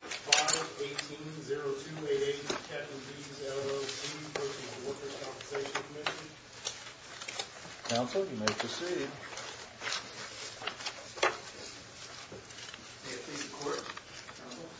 5-18-0288, Captain D's, LLC, v. The Workers' Compensation Commission Counsel, you may proceed. May it please the Court, Counsel.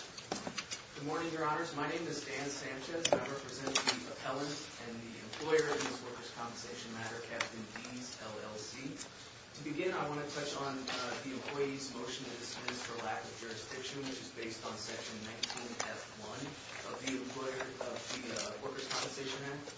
Good morning, Your Honors. My name is Dan Sanchez, and I represent the appellant and the employer in this workers' compensation matter, Captain D's, LLC. To begin, I want to touch on the employee's motion to dismiss for lack of jurisdiction, which is based on Section 19-F1 of the Employer of the Workers' Compensation Act.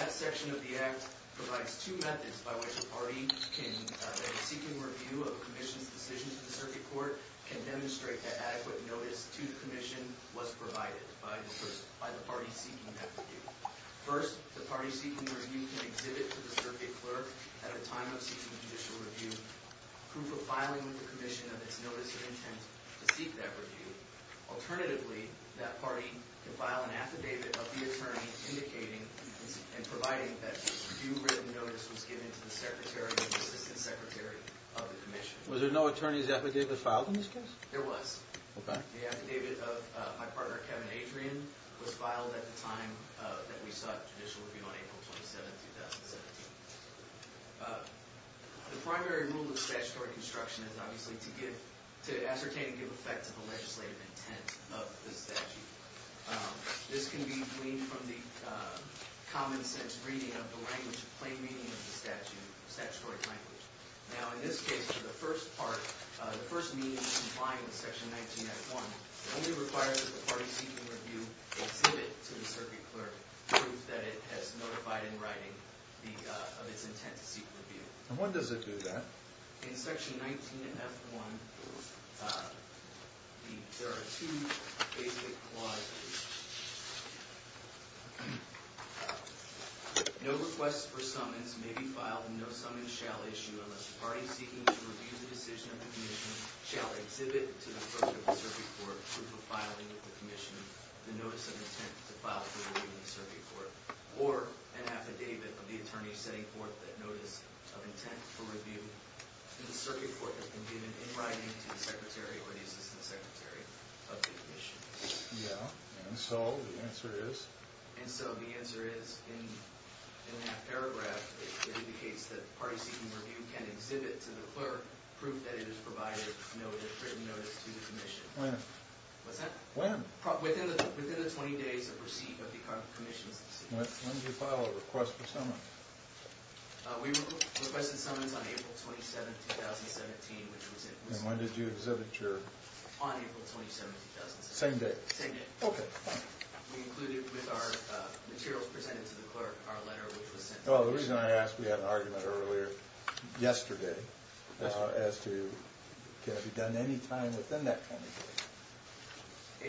That section of the act provides two methods by which a party can, in a seeking review of a commission's decision to the circuit court, can demonstrate that adequate notice to the commission was provided by the party seeking that review. First, the party seeking the review can exhibit to the circuit clerk at a time of seeking judicial review proof of filing with the commission of its notice of intent to seek that review. Alternatively, that party can file an affidavit of the attorney indicating and providing that due written notice was given to the secretary or assistant secretary of the commission. Was there no attorney's affidavit filed in this case? There was. The affidavit of my partner, Kevin Adrian, was filed at the time that we sought judicial review on April 27, 2017. The primary rule of statutory construction is obviously to ascertain and give effect to the legislative intent of the statute. This can be gleaned from the common sense reading of the plain meaning of the statutory language. Now, in this case, the first part, the first meaning of complying with Section 19F1 only requires that the party seeking review exhibit to the circuit clerk proof that it has notified in writing of its intent to seek review. And when does it do that? In Section 19F1, there are two basic clauses. No request for summons may be filed and no summons shall issue unless the party seeking to review the decision of the commission shall exhibit to the circuit court proof of filing with the commission of the notice of intent to file for review in the circuit court or an affidavit of the attorney setting forth that notice of intent for review in the circuit court that has been given in writing to the secretary or the assistant secretary of the commission. Yeah, and so the answer is? And so the answer is in that paragraph, it indicates that the party seeking review can exhibit to the clerk proof that it has provided a written notice to the commission. When? What's that? When? Within the 20 days of receipt of the commission's decision. When did you file a request for summons? We requested summons on April 27, 2017. And when did you exhibit your? On April 27, 2017. Same day? Same day. OK. We included with our materials presented to the clerk our letter which was sent to the commission. Well, the reason I asked, we had an argument earlier yesterday as to can it be done any time within that 20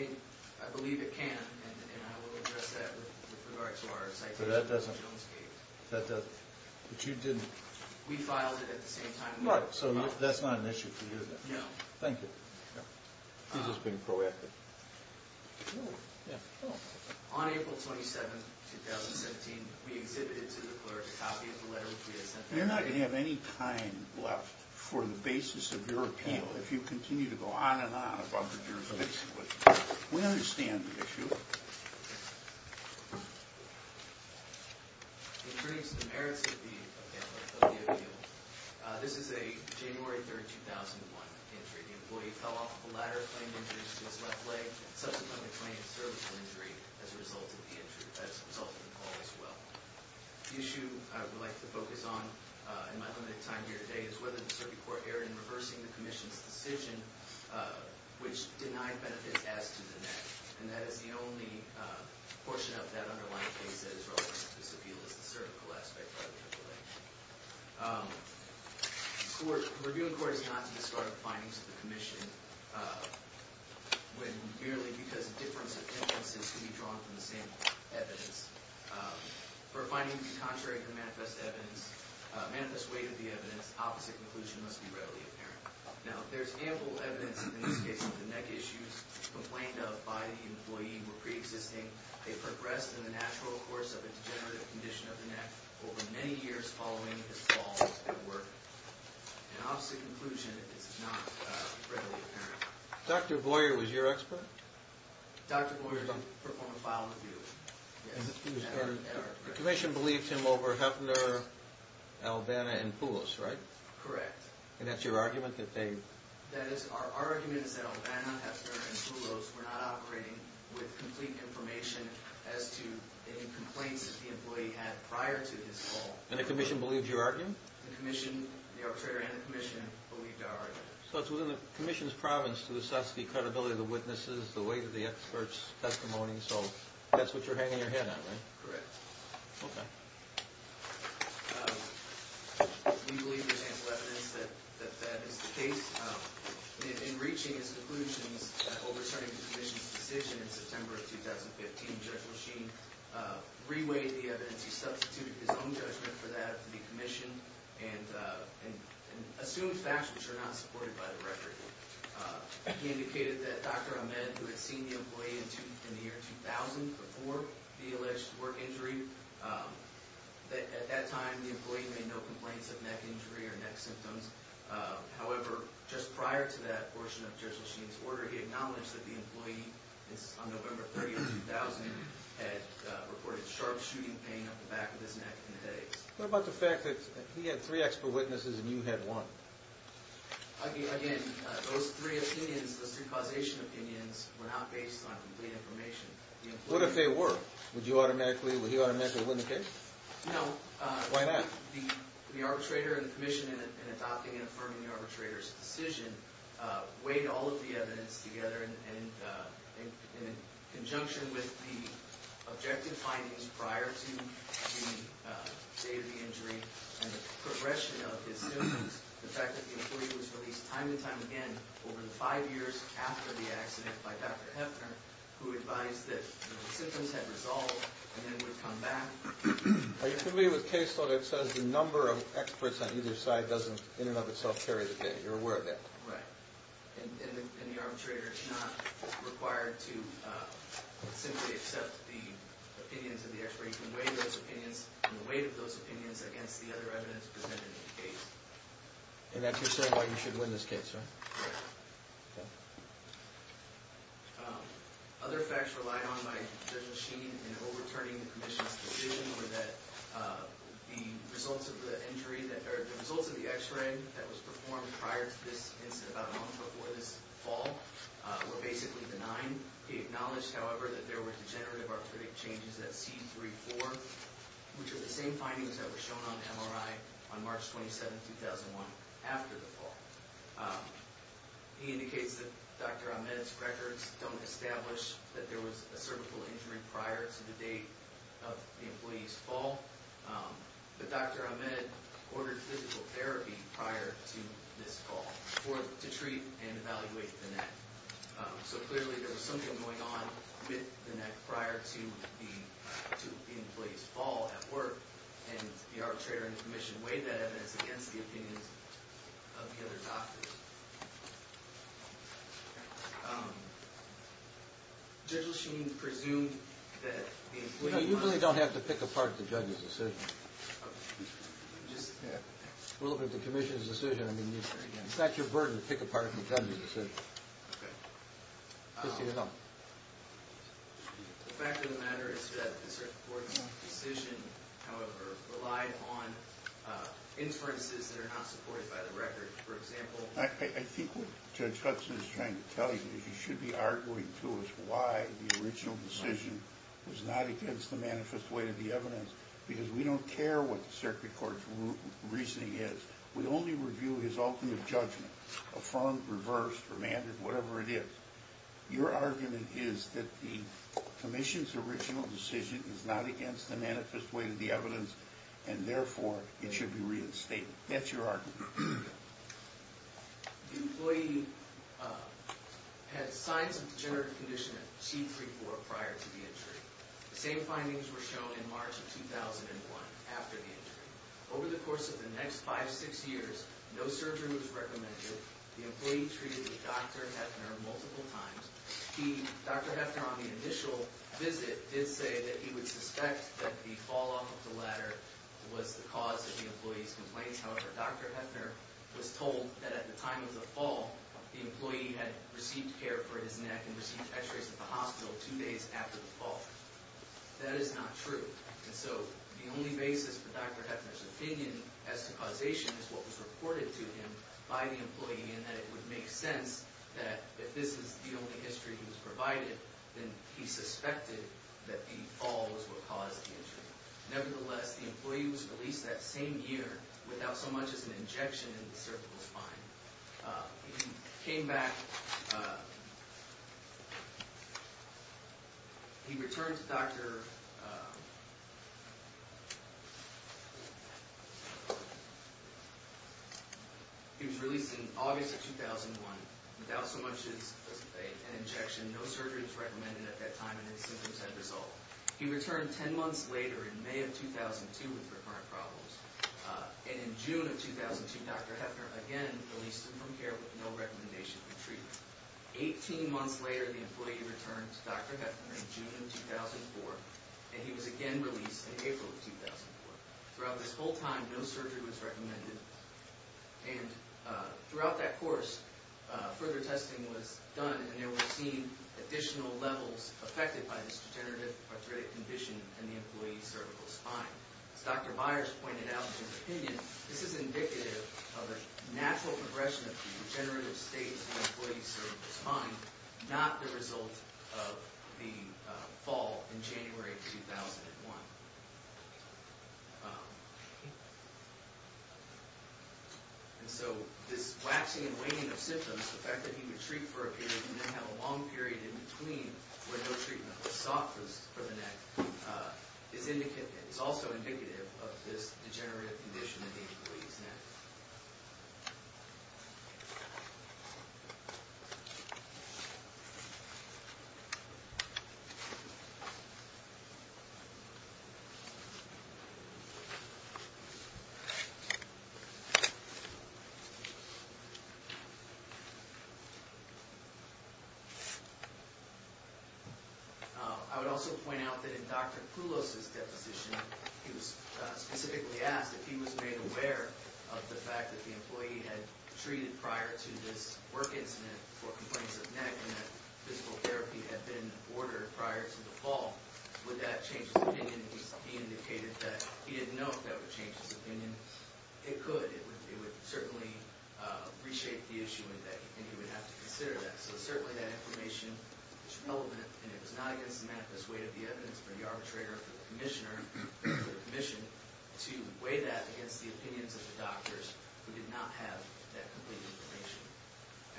days. I believe it can, and I will address that with regard to our citation of Jonesgate. But you didn't? We filed it at the same time. So that's not an issue for you then? No. Thank you. He's just being proactive. On April 27, 2017, we exhibited to the clerk a copy of the letter which we had sent to the commission. You're not going to have any time left for the basis of your appeal if you continue to go on and on about the jurisdiction. We understand the issue. In terms of the merits of the appeal, this is a January 3, 2001 injury. The employee fell off the ladder, claimed injuries to his left leg, and subsequently claimed a surgical injury as a result of the fall as well. The issue I would like to focus on in my limited time here today is whether the circuit court erred in reversing the commission's decision, which denied benefits as to the net. And that is the only portion of that underlying case that is relevant to this appeal, is the surgical aspect of the situation. Review in court is not to discard findings of the commission when, merely because of difference of interests, it can be drawn from the same evidence. For a finding to be contrary to the manifest weight of the evidence, opposite conclusion must be readily apparent. Now, there's ample evidence in this case that the neck issues complained of by the employee were pre-existing. They progressed in the natural course of a degenerative condition of the neck over many years following his fall at work. An opposite conclusion is not readily apparent. Dr. Boyer was your expert? Dr. Boyer performed a file review. The commission believed him over Heffner, Albana, and Poulos, right? Correct. And that's your argument that they... That is, our argument is that Albana, Heffner, and Poulos were not operating with complete information as to any complaints that the employee had prior to his fall. And the commission believed your argument? The commission, the arbitrator and the commission, believed our argument. So it's within the commission's province to assess the credibility of the witnesses, the weight of the expert's testimony, so that's what you're hanging your head on, right? Correct. Okay. We believe there's ample evidence that that is the case. In reaching his conclusions, overturning the commission's decision in September of 2015, Judge Machine reweighed the evidence. He substituted his own judgment for that to be commissioned and assumed facts which are not supported by the record. He indicated that Dr. Ahmed, who had seen the employee in the year 2000 before the alleged work injury, that at that time the employee made no complaints of neck injury or neck symptoms. However, just prior to that portion of Judge Machine's order, he acknowledged that the employee, on November 30, 2000, had reported sharp shooting pain up the back of his neck and headaches. What about the fact that he had three expert witnesses and you had one? Again, those three opinions, those three causation opinions, were not based on complete information. What if they were? Would you automatically, would he automatically win the case? No. Why not? The arbitrator and the commission, in adopting and affirming the arbitrator's decision, weighed all of the evidence together, in conjunction with the objective findings prior to the day of the injury and the progression of his symptoms, the fact that the employee was released time and time again over the five years after the accident by Dr. Heffner, who advised that the symptoms had resolved and then would come back. Are you familiar with case law that says the number of experts on either side doesn't, in and of itself, carry the day? You're aware of that? Right. And the arbitrator is not required to simply accept the opinions of the expert. You can weigh those opinions and the weight of those opinions against the other evidence presented in the case. And that's your saying why you should win this case, right? Right. Okay. Other facts relied on by Judge Machine in overturning the commission's decision were that the results of the injury that, or the results of the x-ray that was performed prior to this incident, about a month before this fall, were basically denied. He acknowledged, however, that there were degenerative arthritic changes at C3-4, which are the same findings that were shown on MRI on March 27, 2001, after the fall. He indicates that Dr. Ahmed's records don't establish that there was a cervical injury prior to the date of the employee's fall. But Dr. Ahmed ordered physical therapy prior to this fall to treat and evaluate the neck. So clearly there was something going on with the neck prior to the employee's fall at work. And the arbitrator in the commission weighed that evidence against the opinions of the other doctors. Judge Machine presumed that the employee might have— No, you really don't have to pick apart the judge's decision. Okay. We're looking at the commission's decision. I mean, it's not your burden to pick apart the judge's decision. Okay. Just so you know. The fact of the matter is that the circuit court's decision, however, relied on inferences that are not supported by the record. For example— I think what Judge Hudson is trying to tell you is you should be arguing to us why the original decision was not against the manifest weight of the evidence, because we don't care what the circuit court's reasoning is. We only review his ultimate judgment, affirmed, reversed, remanded, whatever it is. Your argument is that the commission's original decision is not against the manifest weight of the evidence, and therefore it should be reinstated. That's your argument. The employee had signs of degenerative condition of T3-4 prior to the injury. The same findings were shown in March of 2001 after the injury. Over the course of the next five, six years, no surgery was recommended. The employee treated with Dr. Hefner multiple times. Dr. Hefner, on the initial visit, did say that he would suspect that the fall off of the ladder was the cause of the employee's complaints. However, Dr. Hefner was told that at the time of the fall, the employee had received care for his neck and received x-rays at the hospital two days after the fall. That is not true. And so the only basis for Dr. Hefner's opinion as to causation is what was reported to him by the employee in that it would make sense that if this is the only history he was provided, then he suspected that the fall was what caused the injury. Nevertheless, the employee was released that same year without so much as an injection in the cervical spine. He came back. He returned to Dr. He was released in August of 2001 without so much as an injection. No surgery was recommended at that time and his symptoms had resolved. He returned ten months later in May of 2002 with recurrent problems. And in June of 2002, Dr. Hefner again released him from care with no recommendation for treatment. Eighteen months later, the employee returned to Dr. Hefner in June of 2004, and he was again released in April of 2004. Throughout this whole time, no surgery was recommended. And throughout that course, further testing was done and there were seen additional levels affected by this degenerative arthritic condition in the employee's cervical spine. As Dr. Byers pointed out in his opinion, this is indicative of a natural progression of the degenerative state of the employee's cervical spine, not the result of the fall in January of 2001. And so this waxing and waning of symptoms, the fact that he would treat for a period and then have a long period in between where no treatment was sought for the neck, is also indicative of this degenerative condition in the employee's neck. I would also point out that in Dr. Poulos' deposition, he was specifically asked if he was made aware of the fact that the employee had treated prior to this work incident for complaints of neck and that physical therapy had been ordered prior to the fall. Would that change his opinion? He indicated that he didn't know if that would change his opinion. It could. It would certainly reshape the issue and he would have to consider that. So certainly that information is relevant and it was not against the manifest weight of the evidence for the arbitrator, for the commissioner, for the commission, to weigh that against the opinions of the doctors who did not have that complete information.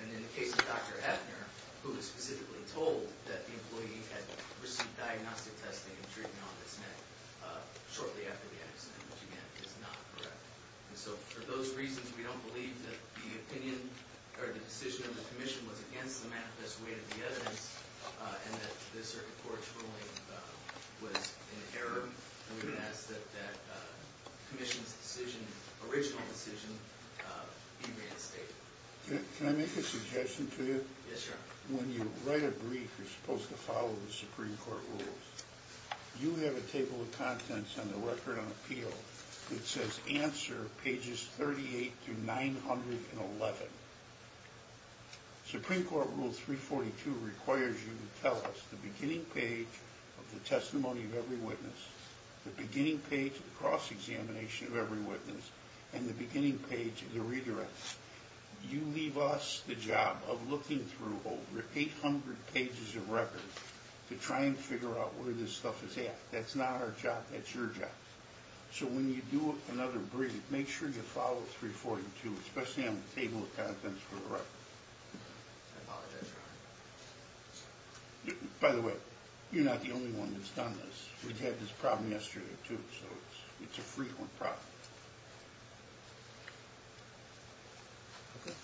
And in the case of Dr. Efner, who was specifically told that the employee had received diagnostic testing and treatment on his neck shortly after the accident, which again, is not correct. And so for those reasons, we don't believe that the opinion or the decision of the commission was against the manifest weight of the evidence and that the circuit court's ruling was in error. We would ask that the commission's decision, original decision, be reinstated. Can I make a suggestion to you? Yes, Your Honor. When you write a brief, you're supposed to follow the Supreme Court rules. You have a table of contents on the record on appeal. It says answer pages 38 through 911. Supreme Court Rule 342 requires you to tell us the beginning page of the testimony of every witness, the beginning page of the cross-examination of every witness, and the beginning page of the redirection. You leave us the job of looking through over 800 pages of record to try and figure out where this stuff is at. That's not our job. That's your job. So when you do another brief, make sure you follow 342, especially on the table of contents for the record. I apologize, Your Honor. By the way, you're not the only one that's done this. We've had this problem yesterday, too, so it's a frequent problem. Okay.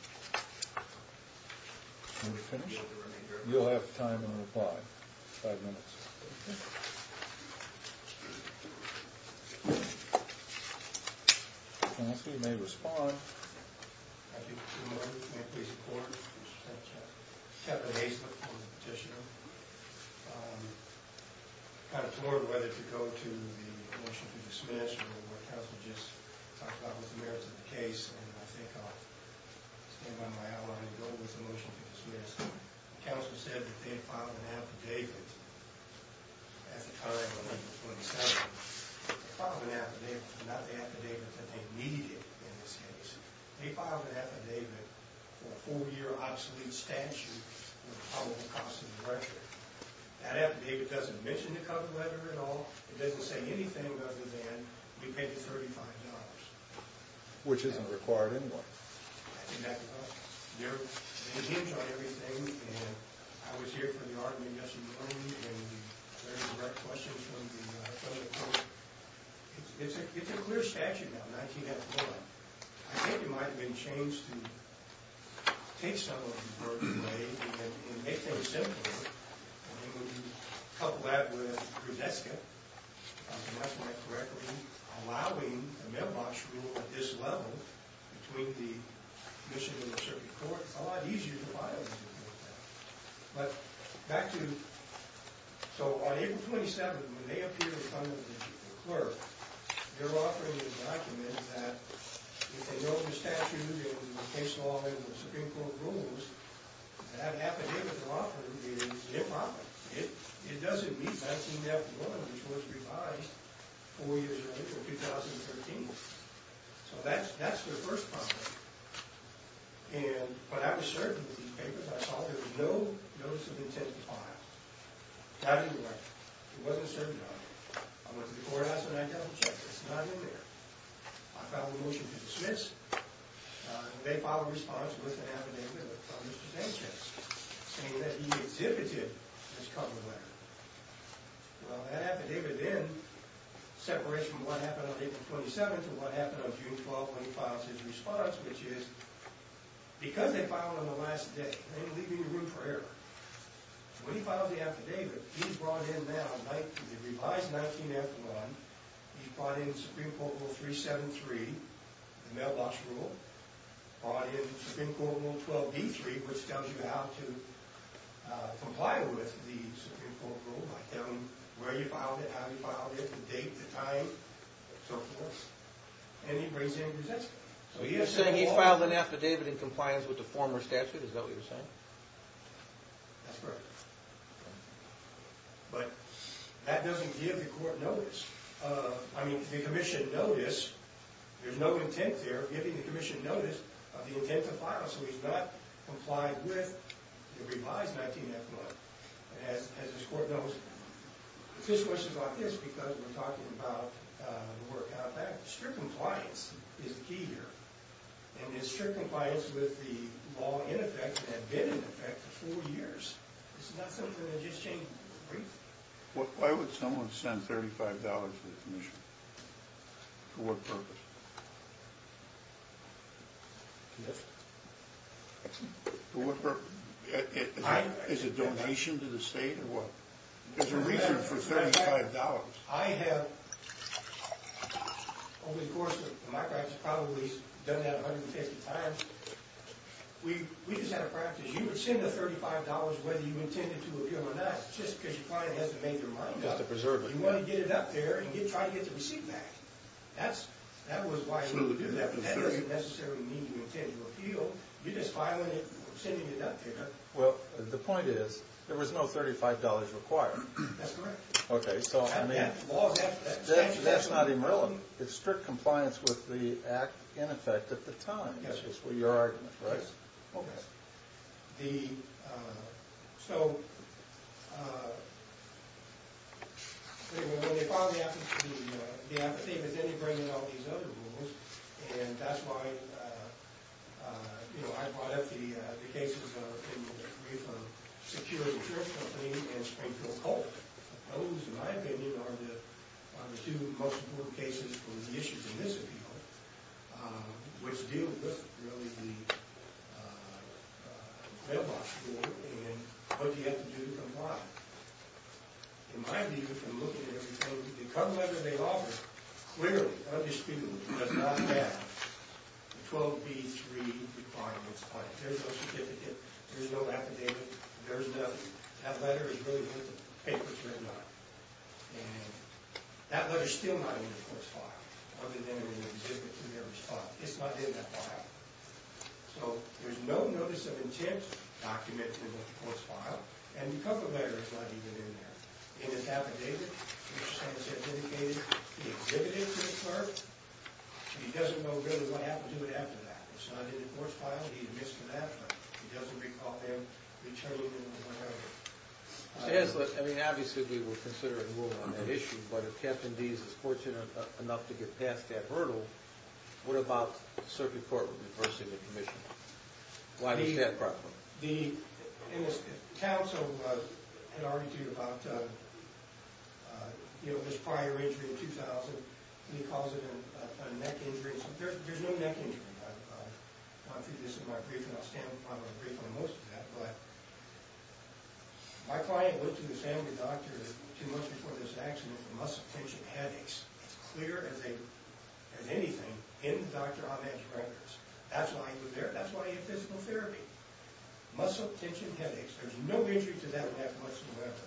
Are we finished? You'll have time to reply. Five minutes. Okay. Counsel, you may respond. Thank you, Your Honor. May I please report? Kevin Hastliff, I'm the petitioner. I'm kind of torn whether to go to the motion to dismiss or what Counsel just talked about with the merits of the case. And I think I'll stand by my outline and go with the motion to dismiss. Counsel said that they had filed an affidavit at the time of the 27th. They filed an affidavit, not the affidavit that they needed in this case. They filed an affidavit for a four-year obsolete statute with a probable cost of the record. That affidavit doesn't mention the cover letter at all. It doesn't say anything other than we paid you $35. Which isn't required anymore. Exactly. There are names on everything, and I was here for the argument yesterday morning, and there were direct questions from the federal court. It's a clear statute now, 19-F-4. I think it might have been changed to take some of the burden away and make things simpler. Couple that with Grodeska, if I remember that correctly, allowing a mailbox rule at this level between the commission and the circuit court is a lot easier to file. But back to... So on April 27th, when they appear in front of the clerk, they're offering a document that if they know the statute and the case law and the Supreme Court rules, that affidavit they're offering is improper. It doesn't meet 19-F-1, which was revised four years later, 2013. So that's their first problem. And when I was serving with these papers, I saw there was no notice of intent to file. It had to be right. It wasn't served right. I went to the courthouse and I double-checked. It's not in there. I filed a motion to dismiss. They filed a response with an affidavit from Mr. Dantzschatz, saying that he exhibited this cover letter. Well, that affidavit then separates from what happened on April 27th and what happened on June 12th when he filed his response, which is because they filed on the last day, they didn't leave any room for error. When he files the affidavit, he's brought in now the revised 19-F-1. He's brought in Supreme Court Rule 373, the mailbox rule. He's brought in Supreme Court Rule 12-B-3, which tells you how to comply with the Supreme Court rule, by telling you where you filed it, how you filed it, the date, the time, and so forth. And he brings it in and presents it. So he is saying he filed an affidavit in compliance with the former statute. Is that what you're saying? That's correct. But that doesn't give the court notice. I mean, the commission notice, there's no intent there of giving the commission notice of the intent to file, so he's not complied with the revised 19-F-1, as this court knows. The question is about this, because we're talking about the work out back. Strict compliance is the key here. And his strict compliance with the law in effect had been in effect for four years. This is not something that just changed briefly. Why would someone send $35 to the commission? For what purpose? For what purpose? Is it a donation to the state, or what? There's a reason for $35. I have, over the course of my practice, probably done that 150 times. We just had a practice. You would send the $35 whether you intended to appeal or not, just because your client has to make their mind up. You want to get it up there, and you try to get the receipt back. That was why you would do that. That doesn't necessarily mean you intend to appeal. You're just filing it or sending it up there. Well, the point is, there was no $35 required. That's correct. Okay, so I mean, that's not even relevant. It's strict compliance with the act in effect at the time, is your argument, right? Okay. So, when they file the apathy, but then they bring in all these other rules. And that's why I brought up the cases in the brief of Secure Insurance Company and Springfield Cult. Those, in my opinion, are the two most important cases for the issues in this appeal, which deal with, really, the mailbox rule and what you have to do to comply. In my view, if you look at everything, the cover letter they offer, clearly, undisputed, does not have the 12B3 requirements on it. There's no certificate. There's no affidavit. There's nothing. That letter is really where the paper's written on it. And that letter's still not in the court's file, other than in an exhibit to their response. It's not in that file. So, there's no notice of intent documented in the court's file, and the cover letter is not even in there. It is affidavit, which, as I said, indicated the exhibit is referred. He doesn't know, really, what happened to it after that. It's not in the court's file. He admits to that, but he doesn't recall them returning it or whatever. Chancellor, I mean, obviously, we will consider and move on that issue, but if Captain Deese is fortunate enough to get past that hurdle, what about the circuit court reversing the commission? Why was that a problem? The counsel had argued about this prior injury in 2000, and he calls it a neck injury. There's no neck injury. I want to do this in my briefing. I'll stand up on my brief on most of that, but my client went to the family doctor two months before this accident with muscle tension headaches. It's clear as anything in the doctor's on-edge records. That's why he was there. That's why he had physical therapy. Muscle tension headaches. There's no injury to that neck whatsoever.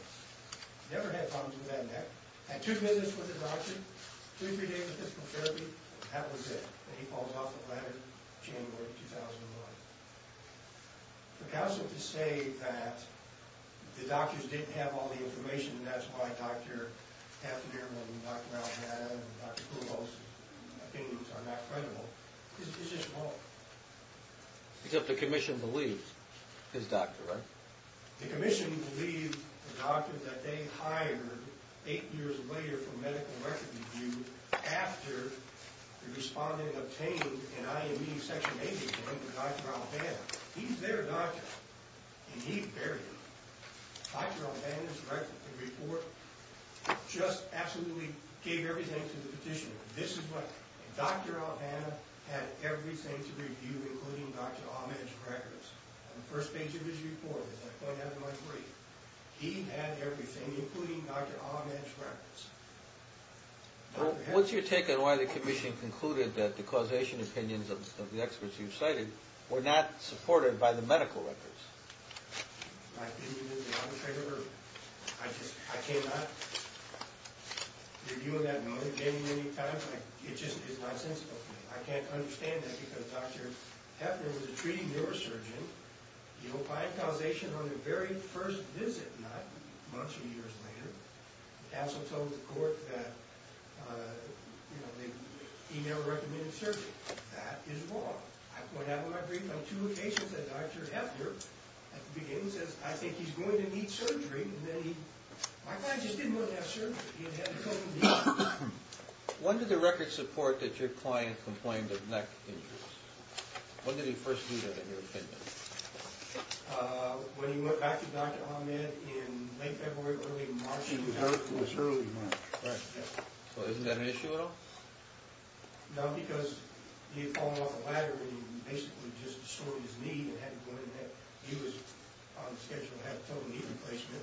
Never had problems with that neck. Had two visits with the doctor, two or three days of physical therapy, and that was it. And he falls off the ladder January 2001. For counsel to say that the doctors didn't have all the information, and that's why Dr. Heffner and Dr. Alexander and Dr. Poulos' opinions are not credible, is just wrong. Except the commission believes his doctor, right? The commission believes the doctor that they hired eight years later for medical record review after the respondent obtained an IME Section 80 from Dr. Albana. He's their doctor, and he buried it. Dr. Albana's record report just absolutely gave everything to the petitioner. This is what Dr. Albana had everything to review, including Dr. On-Edge records. On the first page of his report, as I pointed out in my brief, he had everything, including Dr. On-Edge records. What's your take on why the commission concluded that the causation opinions of the experts you've cited were not supported by the medical records? My opinion is the opposite of hers. I just can't. Reviewing that and only getting it any time, it just is nonsensical to me. I can't understand that, because Dr. Heffner was a treating neurosurgeon. By causation on the very first visit, not months or years later, he also told the court that he never recommended surgery. That is wrong. I point out in my brief on two occasions that Dr. Heffner, at the beginning, says, I think he's going to need surgery, and then he... My client just didn't want to have surgery. When did the records support that your client complained of neck injuries? When did he first do that, in your opinion? When he went back to Dr. On-Edge in late February, early March. It was early March. So isn't that an issue at all? No, because he had fallen off a ladder, and he basically just destroyed his knee and had to go to the neck. He was on schedule to have a total knee replacement.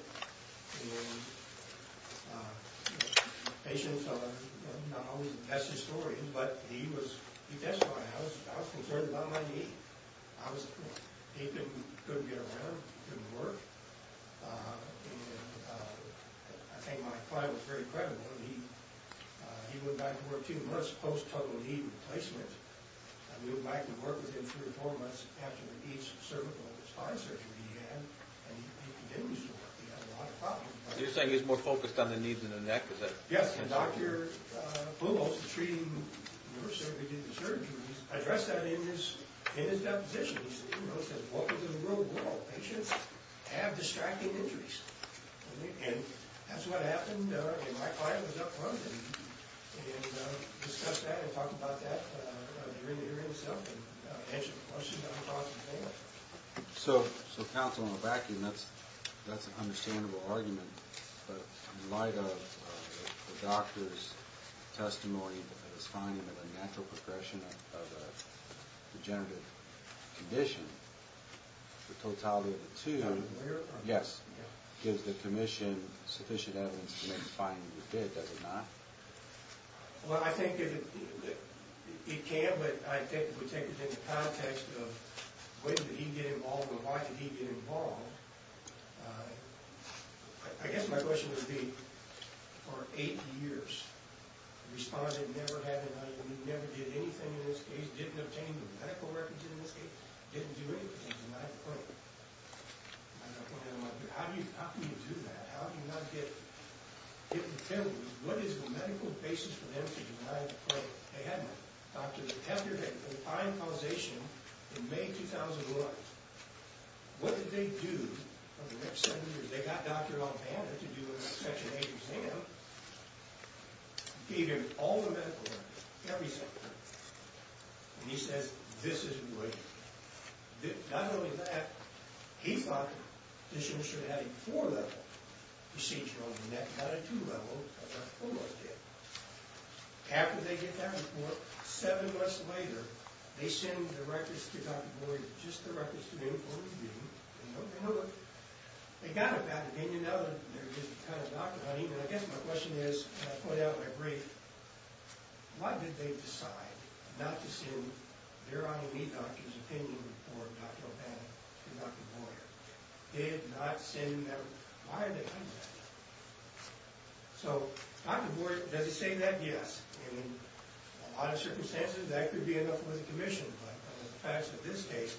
Patients are not always the best historians, but he testified. I was concerned about my knee. He couldn't get around, couldn't work. I think my client was very credible. He went back to work two months post-total knee replacement. I moved back to work with him three or four months after each cervical and spine surgery he had, and he continues to work. He has a lot of problems. You're saying he's more focused on the knees than the neck? Yes, and Dr. Blumholz, the treating nurse who did the surgery, addressed that in his deposition. He said, you know, he said, welcome to the real world. Patients have distracting injuries. And that's what happened, and my client was up front and discussed that and talked about that during the hearing itself and answered the questions that were brought to the table. So, counsel, on the vacuum, that's an understandable argument. But in light of the doctor's testimony, his finding of a natural progression of a degenerative condition, the totality of the two gives the commission sufficient evidence to make the finding we did, does it not? Well, I think it can, but I think we take it in the context of when did he get involved and why did he get involved. I guess my question would be, for eight years, responded never had an injury, never did anything in this case, didn't obtain a medical record in this case, didn't do anything, and I have a point. How can you do that? How do you not get the penalties? What is the medical basis for them to deny the claim? They had no doctor. The doctor had a fine causation in May 2001. What did they do for the next seven years? They got Dr. Ombanda to do a Section 8 exam, gave him all the medical records, every single one, and he says, this is great. Not only that, he thought this should have a four-level procedure on the neck, not a two-level, as Dr. Fuller did. After they get that report, seven months later, they send the records to Dr. Boyd, just the records to the in-court review, and nothing else. They got it back. Then, you know, there is the kind of doctor hunting, and I guess my question is, and I point out in my brief, why did they decide not to send their own lead doctor's opinion report, Dr. Ombanda, to Dr. Boyd? They did not send them. Why are they doing that? So, Dr. Boyd, does he say that? Yes. And in a lot of circumstances, that could be enough with a commission, but in the facts of this case,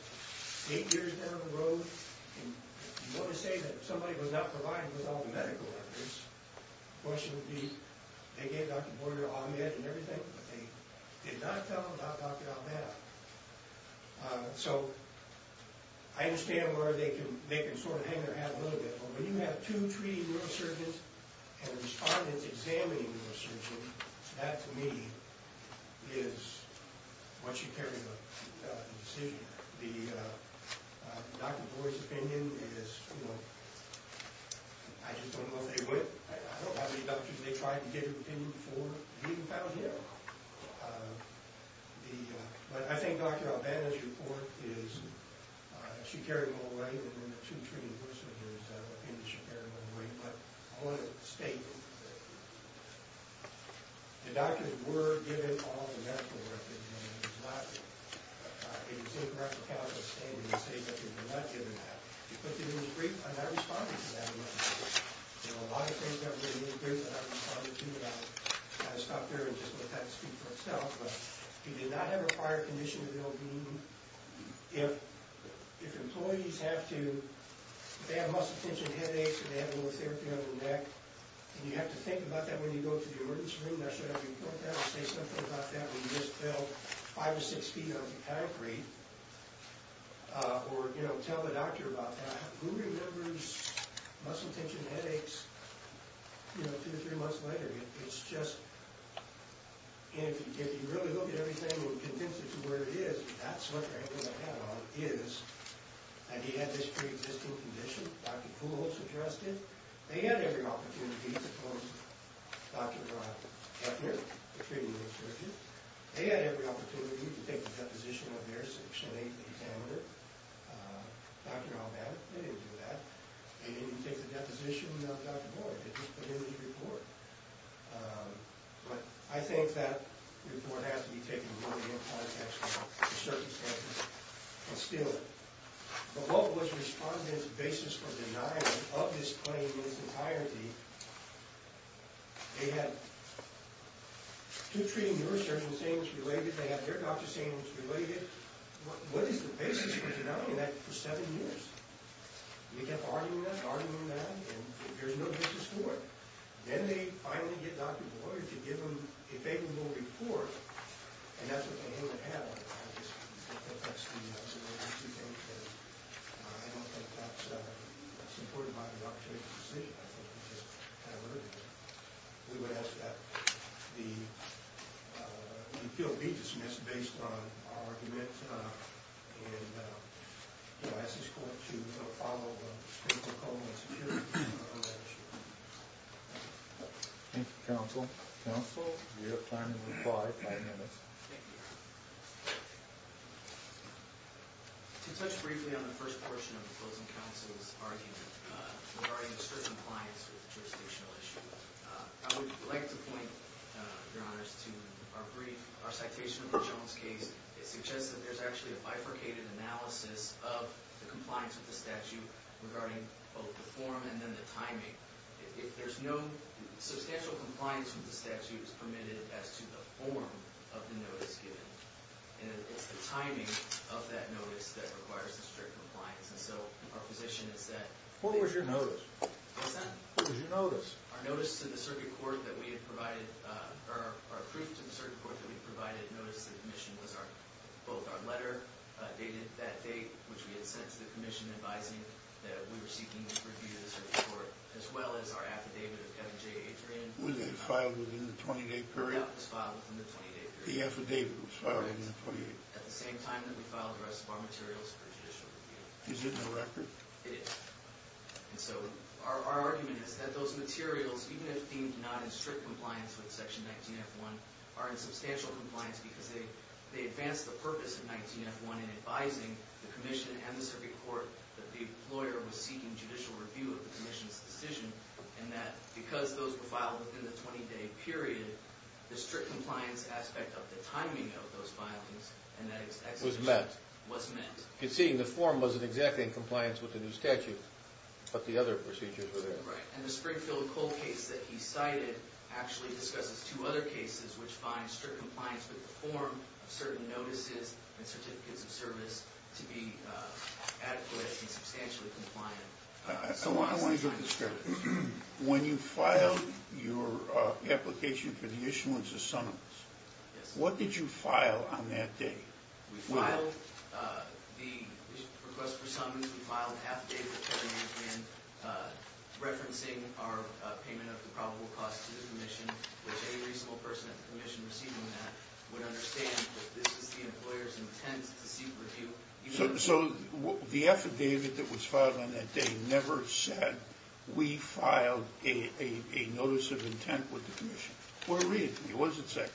eight years down the road, and you want to say that somebody was not provided with all the medical records, the question would be, they gave Dr. Boyd or Ahmed and everything, but they did not tell about Dr. Ombanda. So, I understand where they can sort of hang their hat a little bit, but when you have two treating neurosurgeons and respondents examining neurosurgeons, that, to me, is what should carry the decision. I mean, Dr. Boyd's opinion is, you know, I just don't know if they would. I don't know how many doctors they tried to give their opinion before being found here. But I think Dr. Ombanda's report is, she carried them away, and then the two treating neurosurgeons, I think she carried them away. But I want to state that the doctors were given all the medical records, and it is incorrect to count them and say that they were not given that. But I'm not responding to that one. There are a lot of things that were in the interview that I responded to, and I'll stop there and just let that speak for itself. But he did not have a prior condition of an OB. If employees have to, if they have muscle tension, headaches, and they have a little therapy on their neck, and you have to think about that when you go to the emergency room, should I report that or say something about that when you just fell five or six feet off the concrete, or, you know, tell the doctor about that, who remembers muscle tension, headaches, you know, two to three months later? It's just, if you really look at everything and convince it to where it is, that's what they're going to have on, is, and he had this pre-existing condition, Dr. Kuhl suggested. They had every opportunity to pose Dr. Eppner a pre-existing condition. They had every opportunity to take the deposition of their section 8 contaminator. Dr. Albana, they didn't do that. They didn't even take the deposition of Dr. Boyd. They just put in the report. But I think that report has to be taken really in context of the circumstances and still it. But what was respondent's basis for denying of this claim in its entirety? They had two treating nurses saying it was related. They had their doctor saying it was related. What is the basis for denying that for seven years? They kept arguing that, arguing that, and there's no basis for it. Then they finally get Dr. Boyd to give them a favorable report, and that's what they're going to have on. I don't think that's supported by Dr. Kuhl's decision. We would ask that the appeal be dismissed based on our argument and we ask this court to follow the principle and security of that issue. Thank you, counsel. Counsel, you have time to reply, five minutes. Thank you. To touch briefly on the first portion of the closing counsel's argument regarding the certain compliance with the jurisdictional issue, I would like to point, Your Honors, to our brief, our citation of the Jones case. It suggests that there's actually a bifurcated analysis of the compliance with the statute regarding both the form and then the timing. If there's no substantial compliance with the statute, it's permitted as to the form of the notice given, and it's the timing of that notice that requires the strict compliance. And so our position is that— What was your notice? What's that? What was your notice? Our notice to the circuit court that we had provided, or our proof to the circuit court that we had provided notice to the commission was both our letter dated that date, which we had sent to the commission advising that we were seeking review to the circuit court, as well as our affidavit of Kevin J. Adrian. Was it filed within the 20-day period? It was filed within the 20-day period. The affidavit was filed within the 20-day period. At the same time that we filed the rest of our materials for judicial review. Is it in the record? It is. And so our argument is that those materials, even if deemed not in strict compliance with Section 19F1, are in substantial compliance because they advance the purpose of 19F1 in advising the commission and the circuit court that the employer was seeking judicial review of the commission's decision and that because those were filed within the 20-day period, the strict compliance aspect of the timing of those filings and that execution— Was met. Was met. You can see the form wasn't exactly in compliance with the new statute, but the other procedures were there. Right. And the Springfield Cole case that he cited actually discusses two other cases which find strict compliance with the form of certain notices and certificates of service to be adequate and substantially compliant. I want to get this clear. When you filed your application for the issuance of summons, Yes. what did you file on that day? We filed the request for summons. We filed half a day before the end, referencing our payment of the probable cost to the commission, which any reasonable person at the commission receiving that would understand that this is the employer's intent to seek review. So the affidavit that was filed on that day never said, we filed a notice of intent with the commission. Or read it to me. What does it say?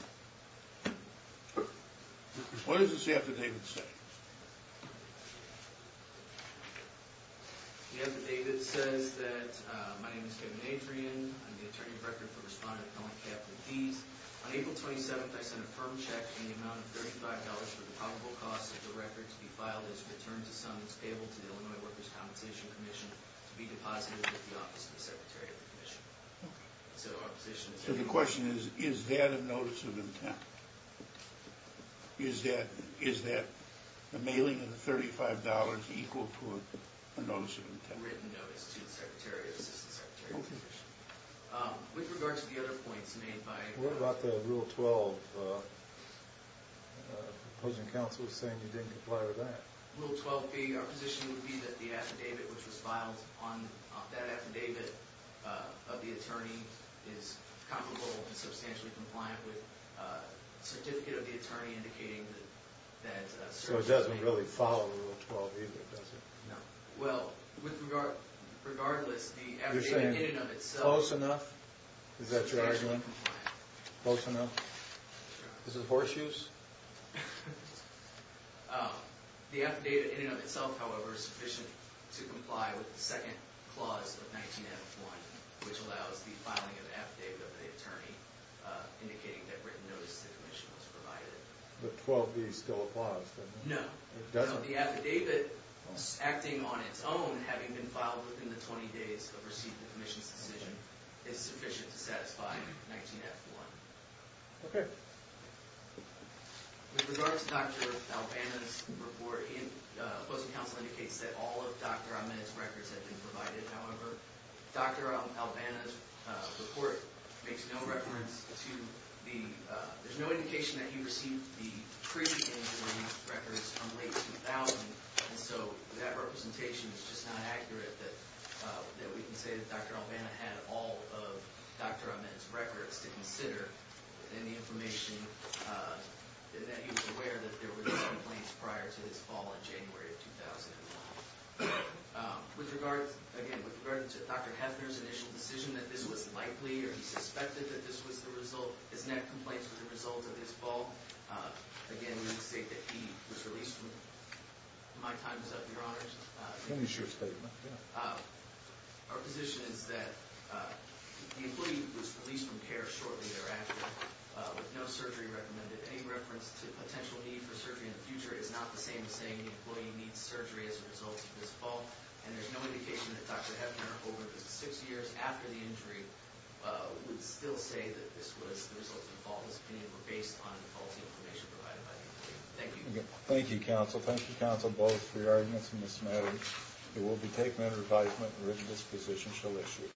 What does this affidavit say? The affidavit says that, My name is Kevin Adrian. I'm the attorney director for Respondent Appellant Capital Deeds. On April 27th, I sent a firm check in the amount of $35 for the probable cost of the record to be filed as returns of summons payable to the Illinois Workers' Compensation Commission to be deposited with the office of the secretary of the commission. So our position is that So the question is, is that a notice of intent? Is that the mailing of the $35 equal to a notice of intent? A written notice to the secretary or assistant secretary of the commission. With regard to the other points made by What about the Rule 12? The opposing counsel was saying you didn't comply with that. Rule 12 being our position would be that the affidavit which was filed on that affidavit of the attorney is comparable and substantially compliant with a certificate of the attorney indicating that So it doesn't really follow Rule 12 either, does it? No. Well, regardless, the affidavit in and of itself You're saying close enough? Is that your argument? Close enough? Is it horseshoes? The affidavit in and of itself, however, is sufficient to comply with the second clause of 19F1 which allows the filing of an affidavit of the attorney indicating that written notice to the commission was provided. But 12B is still a clause, doesn't it? No. The affidavit acting on its own having been filed within the 20 days of receiving the commission's decision is sufficient to satisfy 19F1. Okay. With regard to Dr. Albana's report opposing counsel indicates that all of Dr. Ahmed's records have been provided. However, Dr. Albana's report makes no reference to the There's no indication that he received the pre-engagement records from late 2000. And so that representation is just not accurate that we can say that Dr. Albana had all of Dr. Ahmed's records to consider within the information that he was aware that there were these complaints prior to his fall in January of 2001. With regard, again, with regard to Dr. Hefner's initial decision that this was likely or he suspected that this was the result of his neck complaints as a result of his fall again, we would state that he was released from My time is up, Your Honors. Finish your statement. Our position is that the employee was released from care shortly thereafter with no surgery recommended. Any reference to potential need for surgery in the future is not the same as saying the employee needs surgery as a result of his fall. And there's no indication that Dr. Hefner over the 6 years after the injury would still say that this was the result of the fall and his opinion were based on the faulty information provided by the employee. Thank you. Thank you, counsel. Thank you, counsel, both for your arguments and this matter. It will be taken under advisement and written disposition shall issue.